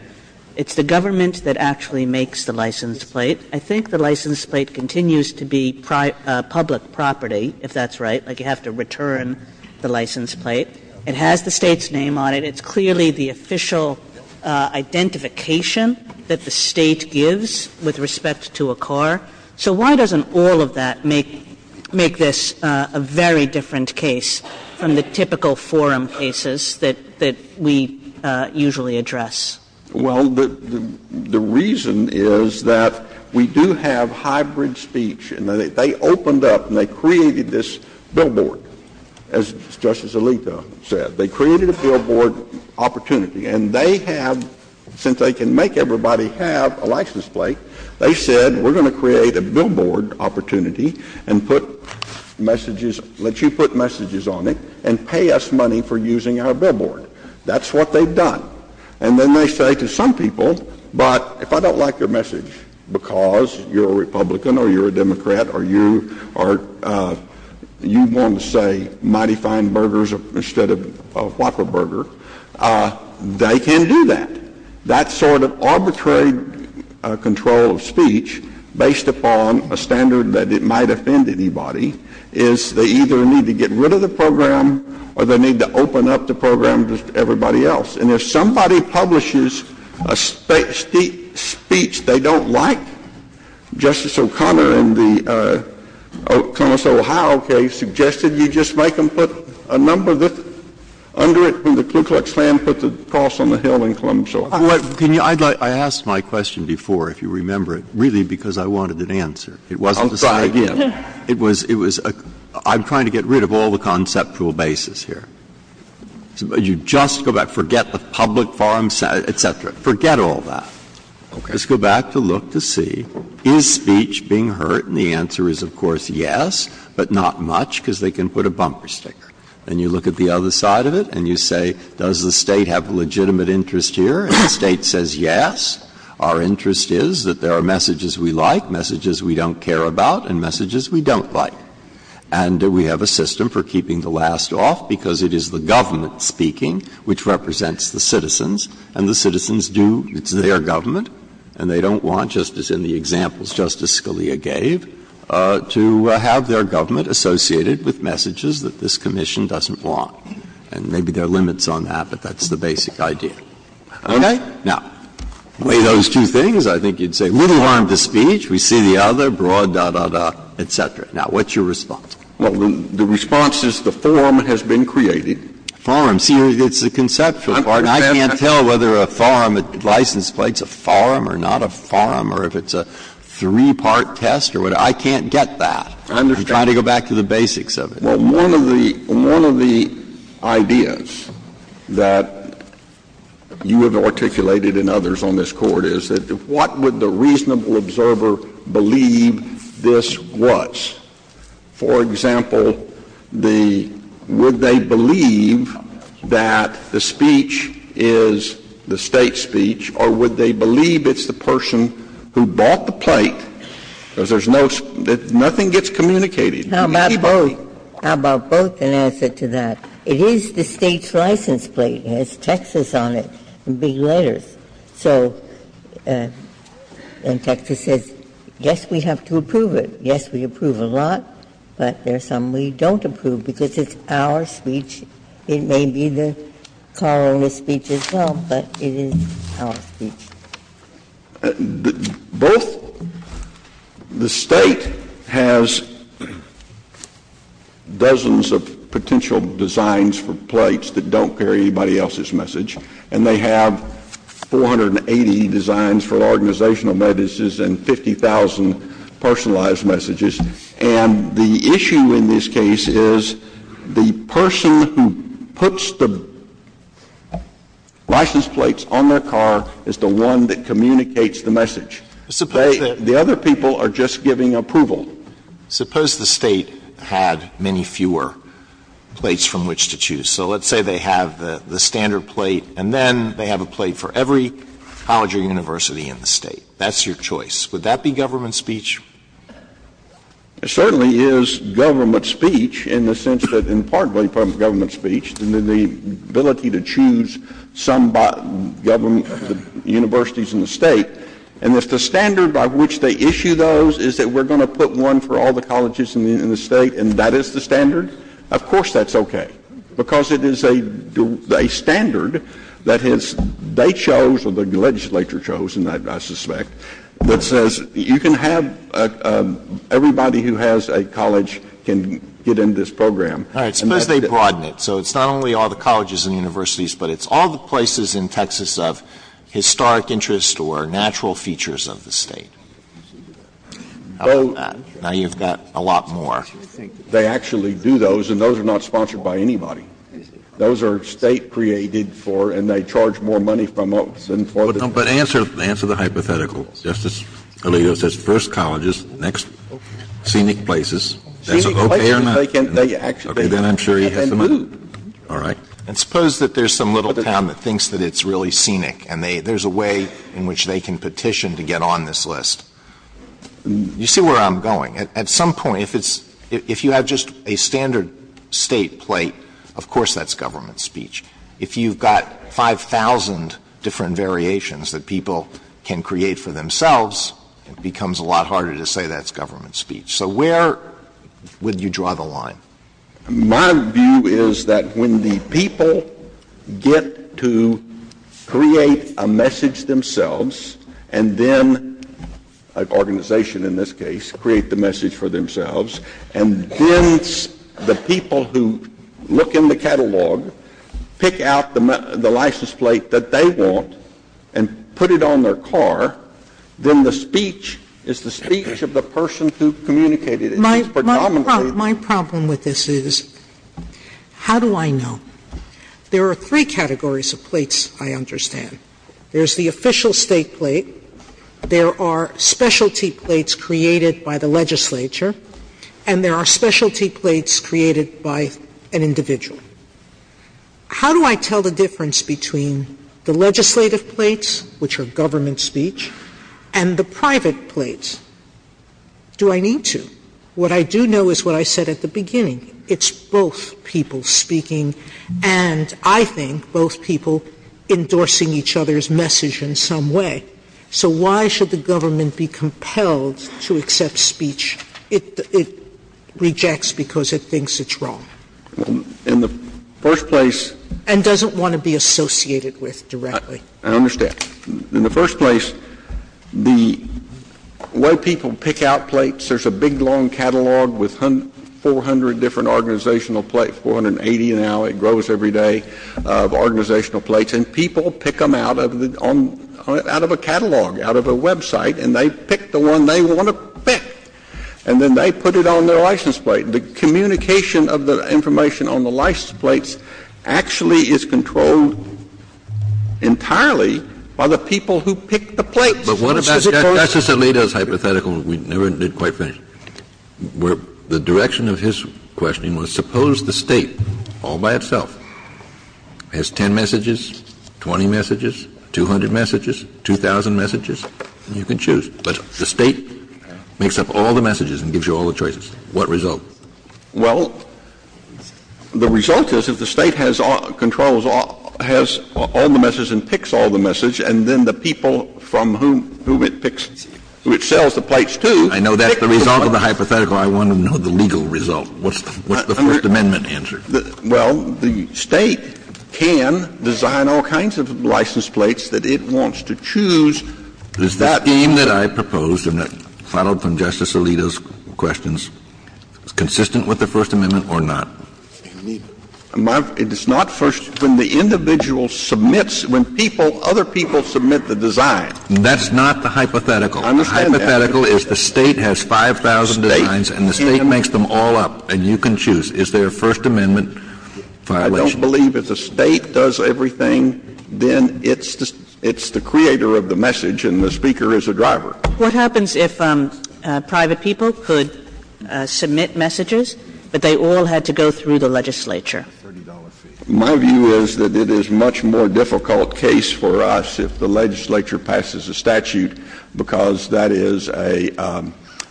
It's the government that actually makes the license plate. I think the license plate continues to be public property, if that's right. Like, you have to return the license plate. It has the State's name on it. It's clearly the official identification that the State gives with respect to a car. So why doesn't all of that make – make this a very different case from the typical forum cases that – that we usually address? Well, the reason is that we do have hybrid speech. And they opened up and they created this billboard, as Justice Alito said. They created a billboard opportunity. And they have – since they can make everybody have a license plate, they said we're going to create a billboard opportunity and put messages – let you put messages on it and pay us money for using our billboard. That's what they've done. And then they say to some people, but if I don't like your message because you're a Republican or you're a Democrat or you are – you want to say Mighty Fine Burgers instead of Whopper Burger, they can do that. That sort of arbitrary control of speech based upon a standard that it might offend anybody is they either need to get rid of the program or they need to open up the program to everybody else. And if somebody publishes a speech they don't like, Justice O'Connor in the Columbus, Ohio case suggested you just make them put a number under it when the Ku Klux Klan put the cross on the hill in Columbus, Ohio. Can you – I'd like – I asked my question before, if you remember it, really because I wanted an answer. It wasn't the same idea. It was – it was a – I'm trying to get rid of all the conceptual bases here. You just go back, forget the public forum, et cetera. Forget all that. Just go back to look to see, is speech being hurt? And the answer is, of course, yes, but not much because they can put a bumper sticker. And you look at the other side of it and you say, does the State have legitimate interest here? And the State says yes. Our interest is that there are messages we like, messages we don't care about, and messages we don't like. And we have a system for keeping the last off because it is the government speaking which represents the citizens, and the citizens do – it's their government and they don't want, just as in the examples Justice Scalia gave, to have their government associated with messages that this commission doesn't want. And maybe there are limits on that, but that's the basic idea. Okay? Now, weigh those two things, I think you'd say, little harm to speech, we see the other, blah, da, da, da, et cetera. Now, what's your response? Well, the response is the forum has been created. The forum. See, it's the conceptual part. I can't tell whether a forum, a license plate's a forum or not a forum, or if it's a three-part test or whatever. I can't get that. I'm trying to go back to the basics of it. Well, one of the – one of the ideas that you have articulated and others on this Court is that what would the reasonable observer believe this was? For example, the – would they believe that the speech is the State's speech, or would they believe it's the person who bought the plate, because there's no – nothing gets communicated. How about both? How about both in answer to that? It is the State's license plate. It has Texas on it in big letters. So, and Texas says, yes, we have to approve it. Yes, we approve a lot, but there's some we don't approve because it's our speech. It may be the coroner's speech as well, but it is our speech. Both – the State has dozens of potential designs for plates that don't carry anybody else's message, and they have 480 designs for organizational notices and 50,000 personalized messages. And the issue in this case is the person who puts the license plates on their car is the one that communicates the message. The other people are just giving approval. Suppose the State had many fewer plates from which to choose. So let's say they have the standard plate, and then they have a plate for every college or university in the State. That's your choice. Would that be government speech? It certainly is government speech in the sense that, and partly from government speech, the ability to choose some government universities in the State, and if the standard by which they issue those is that we're going to put one for all the colleges in the State and that is the standard, of course that's okay, because it is a standard that has – they chose, or the legislature chose, and I suspect, that says you can have – everybody who has a college can get in this program. Alito, so it's not only all the colleges and universities, but it's all the places in Texas of historic interest or natural features of the State. Now, you've got a lot more. They actually do those, and those are not sponsored by anybody. Those are State-created for, and they charge more money from us than for the State. But answer the hypothetical. Justice Alito says first colleges, next scenic places. That's okay or not? Okay, then I'm sure he has the money. Alito, and suppose that there's some little town that thinks that it's really scenic and there's a way in which they can petition to get on this list. You see where I'm going. At some point, if it's – if you have just a standard State plate, of course that's government speech. If you've got 5,000 different variations that people can create for themselves, it becomes a lot harder to say that's government speech. So where would you draw the line? My view is that when the people get to create a message themselves and then – an organization in this case – create the message for themselves, and then the people who look in the catalog pick out the license plate that they want and put it on their car, then the speech is the speech of the person who communicated it. My problem with this is, how do I know? There are three categories of plates I understand. There's the official State plate, there are specialty plates created by the legislature, and there are specialty plates created by an individual. How do I tell the difference between the legislative plates, which are government speech, and the private plates? Do I need to? What I do know is what I said at the beginning. It's both people speaking and, I think, both people endorsing each other's message in some way. So why should the government be compelled to accept speech it rejects because it thinks it's wrong? In the first place – And doesn't want to be associated with directly. I understand. In the first place, the way people pick out plates, there's a big long catalog with 400 different organizational plates, 480 now, it grows every day of organizational plates, and people pick them out of the – out of a catalog, out of a website, and they pick the one they want to pick, and then they put it on their license plate. The communication of the information on the license plates actually is controlled entirely by the people who pick the plates. Justice Alito's hypothetical, we never did quite finish, where the direction of his questioning was suppose the State all by itself has 10 messages, 20 messages, 200 messages, 2,000 messages, and you can choose. But the State makes up all the messages and gives you all the choices. What result? Well, the result is if the State has all – controls all – has all the messages and picks all the messages, and then the people from whom it picks – who it sells the plates to pick the one. I know that's the result of the hypothetical. I want to know the legal result. What's the First Amendment answer? Well, the State can design all kinds of license plates that it wants to choose. Is the scheme that I proposed and that followed from Justice Alito's questions consistent with the First Amendment or not? It's not First – when the individual submits – when people, other people submit the design. That's not the hypothetical. I understand that. The hypothetical is the State has 5,000 designs and the State makes them all up, and you can choose. Is there a First Amendment violation? I don't believe if the State does everything, then it's the creator of the message and the speaker is the driver. What happens if private people could submit messages, but they all had to go through the legislature? My view is that it is a much more difficult case for us if the legislature passes a statute, because that is a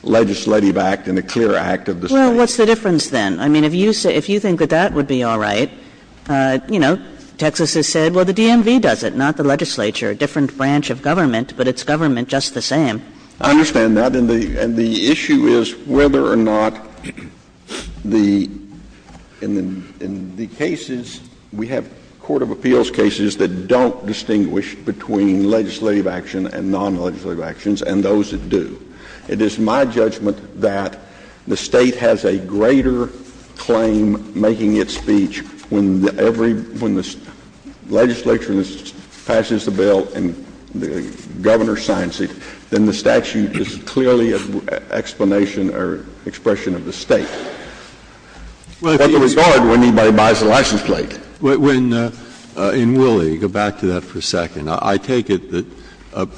legislative act and a clear act of the State. Well, what's the difference then? I mean, if you think that that would be all right, you know, Texas has said, well, the DMV does it, not the legislature, a different branch of government, but it's the government just the same. I understand that. And the issue is whether or not the – in the cases, we have court of appeals cases that don't distinguish between legislative action and non-legislative actions and those that do. It is my judgment that the State has a greater claim making its speech when every – when the legislature passes the bill and the governor signs it, then the statute is clearly an explanation or expression of the State. Well, if you regard when anybody buys a license plate. Breyer. In Willie, go back to that for a second. I take it that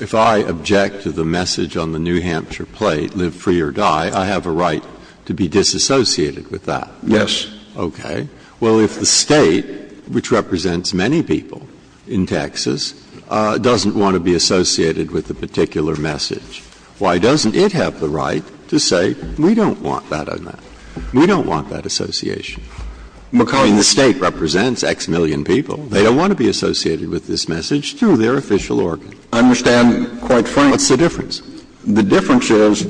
if I object to the message on the New Hampshire plate, live free or die, I have a right to be disassociated with that? Yes. Okay. Well, if the State, which represents many people in Texas, doesn't want to be associated with the particular message, why doesn't it have the right to say, we don't want that on that? We don't want that association. McCulley, the State represents X million people. They don't want to be associated with this message through their official organ. I understand quite firmly. What's the difference? The difference is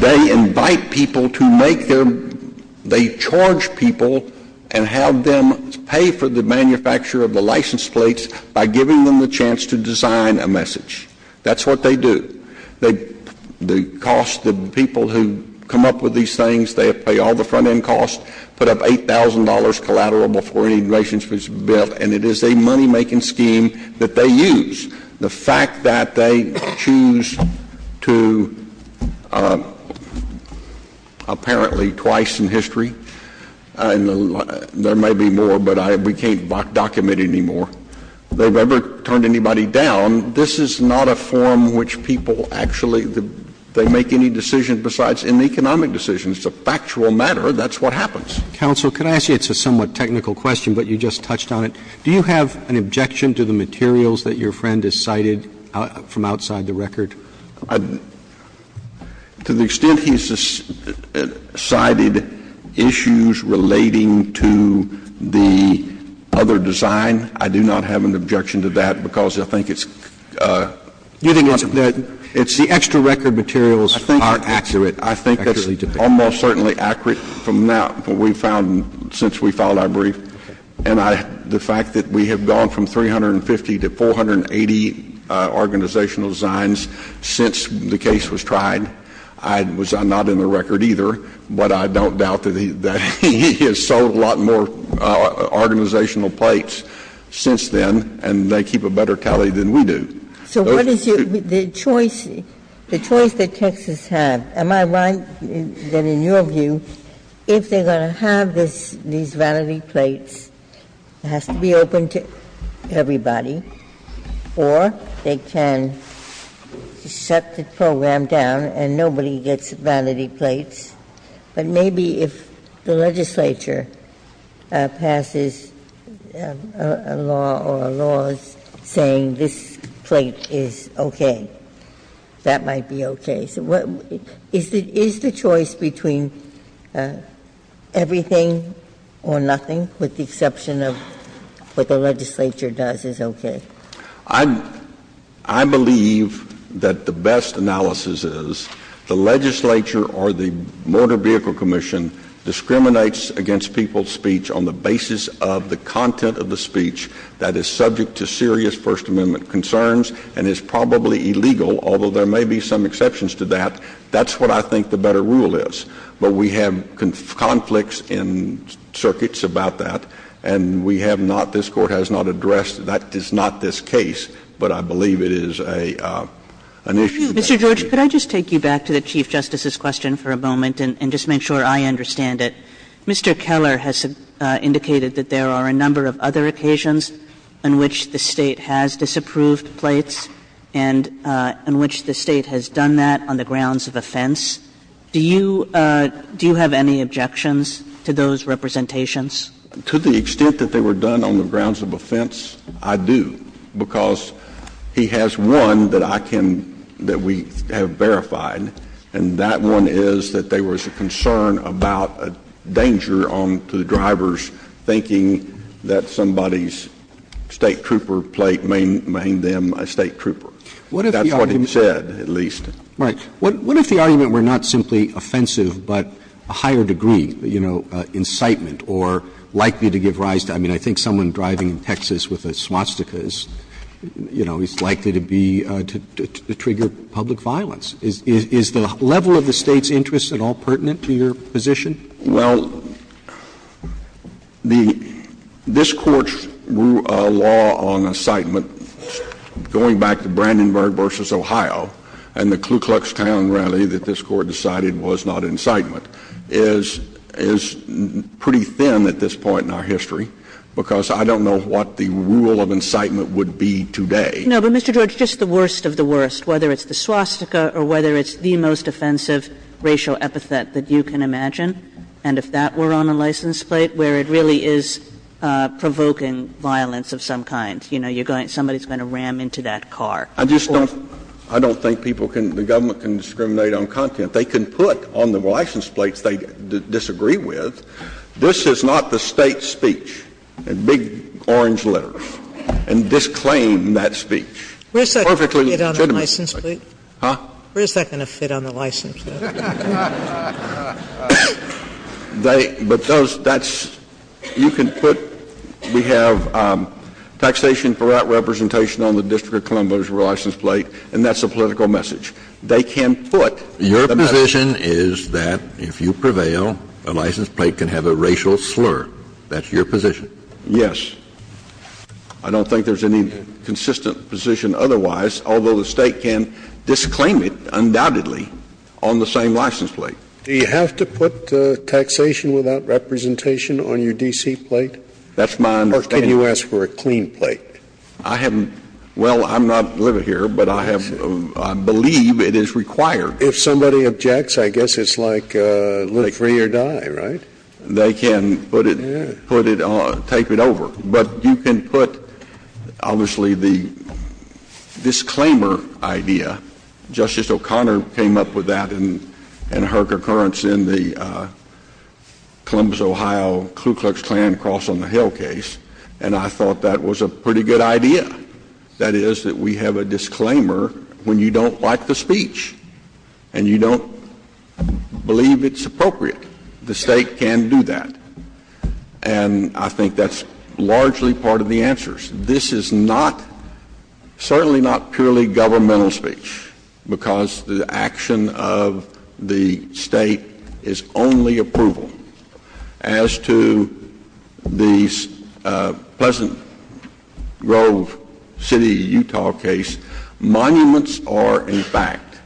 they invite people to make their – they charge people and have them pay for the manufacture of the license plates by giving them the chance to design a message. That's what they do. They – the cost – the people who come up with these things, they pay all the front-end costs, put up $8,000 collateral before any license plate is built, and it is a money-making scheme that they use. The fact that they choose to, apparently twice in history, and there may be more, but we can't document it anymore, they've never turned anybody down. This is not a form which people actually – they make any decision besides an economic decision. It's a factual matter. That's what happens. Counsel, could I ask you – it's a somewhat technical question, but you just touched on it. Do you have an objection to the materials that your friend has cited from outside the record? To the extent he's cited issues relating to the other design, I do not have an objection to that because I think it's not a matter of fact. You think it's the extra record materials are accurate? I think it's almost certainly accurate from what we've found since we filed our brief. And the fact that we have gone from 350 to 480 organizational designs since the case was tried, I was not in the record either, but I don't doubt that he has sold a lot more organizational plates since then, and they keep a better tally than we do. So what is your – the choice, the choice that Texas had, am I right that in your case, they have to get the plates, it has to be open to everybody, or they can shut the program down and nobody gets vanity plates, but maybe if the legislature passes a law or a law saying this plate is okay, that might be okay. Is the choice between everything or nothing, with the exception of what the legislature does, is okay? I believe that the best analysis is the legislature or the Motor Vehicle Commission discriminates against people's speech on the basis of the content of the speech that is subject to serious First Amendment concerns and is probably illegal, although there may be some exceptions to that. That's what I think the better rule is. But we have conflicts in circuits about that and we have not – this Court has not addressed that. It's not this case, but I believe it is an issue. Kagan. Kagan. Mr. George, could I just take you back to the Chief Justice's question for a moment and just make sure I understand it. Mr. Keller has indicated that there are a number of other occasions on which the State has disapproved plates and in which the State has done that on the grounds of offense. Do you – do you have any objections to those representations? To the extent that they were done on the grounds of offense, I do, because he has one that I can – that we have verified, and that one is that there was a concern about a danger on the driver's thinking that somebody's State trooper plate may name them a State trooper. That's what he said, at least. Roberts. Roberts. What if the argument were not simply offensive, but a higher degree, you know, incitement or likely to give rise to – I mean, I think someone driving in Texas with a swastika is, you know, is likely to be – to trigger public violence. Is the level of the State's interest at all pertinent to your position? Well, the – this Court's law on incitement, going back to Brandenburg v. Ohio and the Klu Klux Klan rally that this Court decided was not incitement, is pretty thin at this point in our history, because I don't know what the rule of incitement would be today. No, but Mr. George, just the worst of the worst, whether it's the swastika or whether it's the most offensive racial epithet that you can imagine, and if that were on a license plate, where it really is provoking violence of some kind, you know, you're going – somebody's going to ram into that car. I just don't – I don't think people can – the government can discriminate on content. They can put on the license plates they disagree with, this is not the State's job, and disclaim that speech. Where's that going to fit on the license plate? Huh? Where's that going to fit on the license plate? They – but those – that's – you can put – we have taxation for that representation on the District of Columbia's license plate, and that's a political message. They can put the message. Your position is that if you prevail, a license plate can have a racial slur. That's your position. Yes. I don't think there's any consistent position otherwise, although the State can disclaim it undoubtedly on the same license plate. Do you have to put taxation without representation on your D.C. plate? That's my understanding. Or can you ask for a clean plate? I haven't – well, I'm not living here, but I have – I believe it is required. If somebody objects, I guess it's like live free or die, right? They can put it – put it – take it over. But you can put, obviously, the disclaimer idea. Justice O'Connor came up with that in her concurrence in the Columbus, Ohio Ku Klux Klan cross on the Hill case, and I thought that was a pretty good idea. That is that we have a disclaimer when you don't like the speech and you don't believe it's appropriate. The State can do that, and I think that's largely part of the answers. This is not – certainly not purely governmental speech because the action of the State is only approval. As to the Pleasant Grove City, Utah case, monuments are, in fact,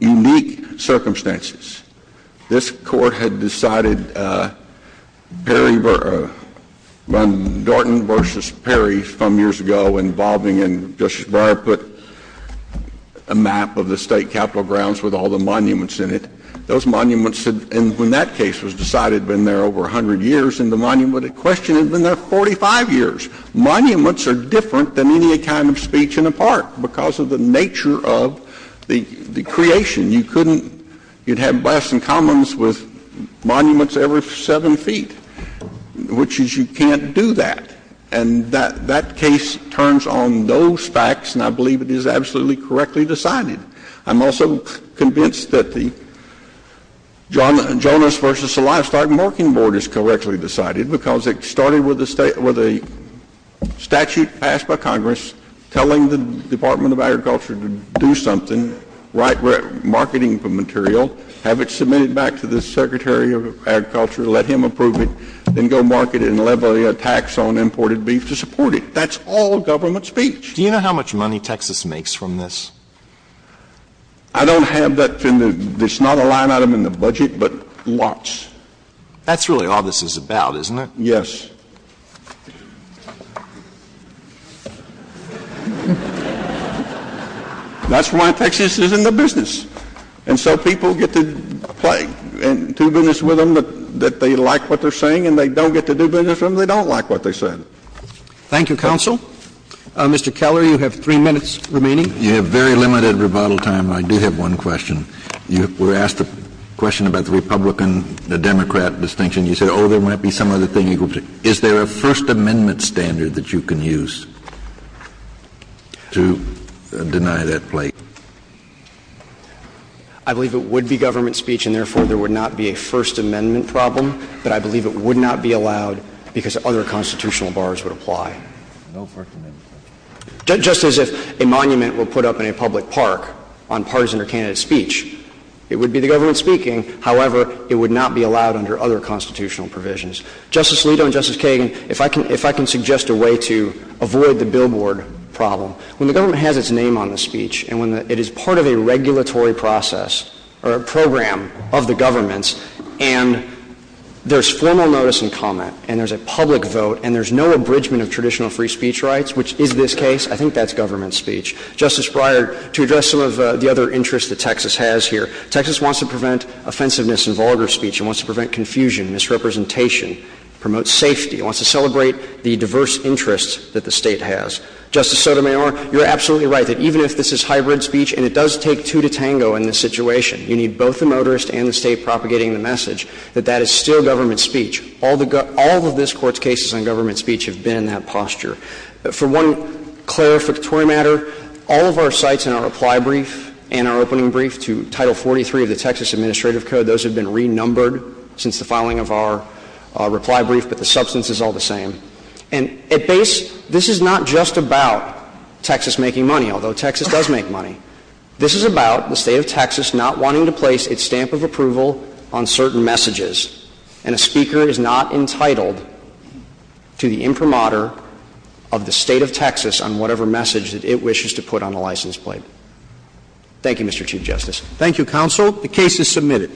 unique circumstances. This Court had decided Perry – Dorton v. Perry some years ago involving – and Justice Breyer put a map of the State Capitol grounds with all the monuments in it. Those monuments – and when that case was decided, it had been there over 100 years, and the monument in question had been there 45 years. Monuments are different than any kind of speech in a park because of the nature of the creation. You couldn't – you'd have blasts and commons with monuments every 7 feet, which is you can't do that. And that case turns on those facts, and I believe it is absolutely correctly decided. I'm also convinced that the Jonas v. Celestak marking board is correctly decided because it started with a – with a statute passed by Congress telling the Department of Agriculture to do something, write marketing material, have it submitted back to the Secretary of Agriculture, let him approve it, then go market it and levy a tax on imported beef to support it. That's all government speech. Do you know how much money Texas makes from this? I don't have that in the – there's not a line item in the budget, but lots. That's really all this is about, isn't it? Yes. That's why Texas is in the business. And so people get to play and do business with them that they like what they're saying and they don't get to do business with them they don't like what they're saying. Thank you, counsel. Mr. Keller, you have three minutes remaining. You have very limited rebuttal time, and I do have one question. You were asked a question about the Republican-Democrat distinction. You said, oh, there might be some other thing you could do. Is there a First Amendment standard that you can use to deny that play? I believe it would be government speech and, therefore, there would not be a First Amendment problem, but I believe it would not be allowed because other constitutional bars would apply. No First Amendment? Just as if a monument were put up in a public park on partisan or candidate speech, it would be the government speaking. However, it would not be allowed under other constitutional provisions. Justice Alito and Justice Kagan, if I can suggest a way to avoid the billboard problem, when the government has its name on the speech and when it is part of a regulatory process or a program of the government's and there's formal notice and comment and there's a public vote and there's no abridgment of traditional free speech rights, which is this case, I think that's government speech. Justice Breyer, to address some of the other interests that Texas has here, Texas wants to prevent offensiveness in vulgar speech. It wants to prevent confusion, misrepresentation, promote safety. It wants to celebrate the diverse interests that the State has. Justice Sotomayor, you're absolutely right that even if this is hybrid speech and it does take two to tango in this situation, you need both the motorist and the State propagating the message that that is still government speech. All of this Court's cases on government speech have been in that posture. For one clarificatory matter, all of our sites in our reply brief and our opening brief to Title 43 of the Texas Administrative Code, those have been renumbered since the filing of our reply brief, but the substance is all the same. And at base, this is not just about Texas making money, although Texas does make money. This is about the State of Texas not wanting to place its stamp of approval on certain messages, and a speaker is not entitled to the imprimatur of the State of Texas on whatever message that it wishes to put on a license plate. Thank you, Mr. Chief Justice. Thank you, counsel. The case is submitted.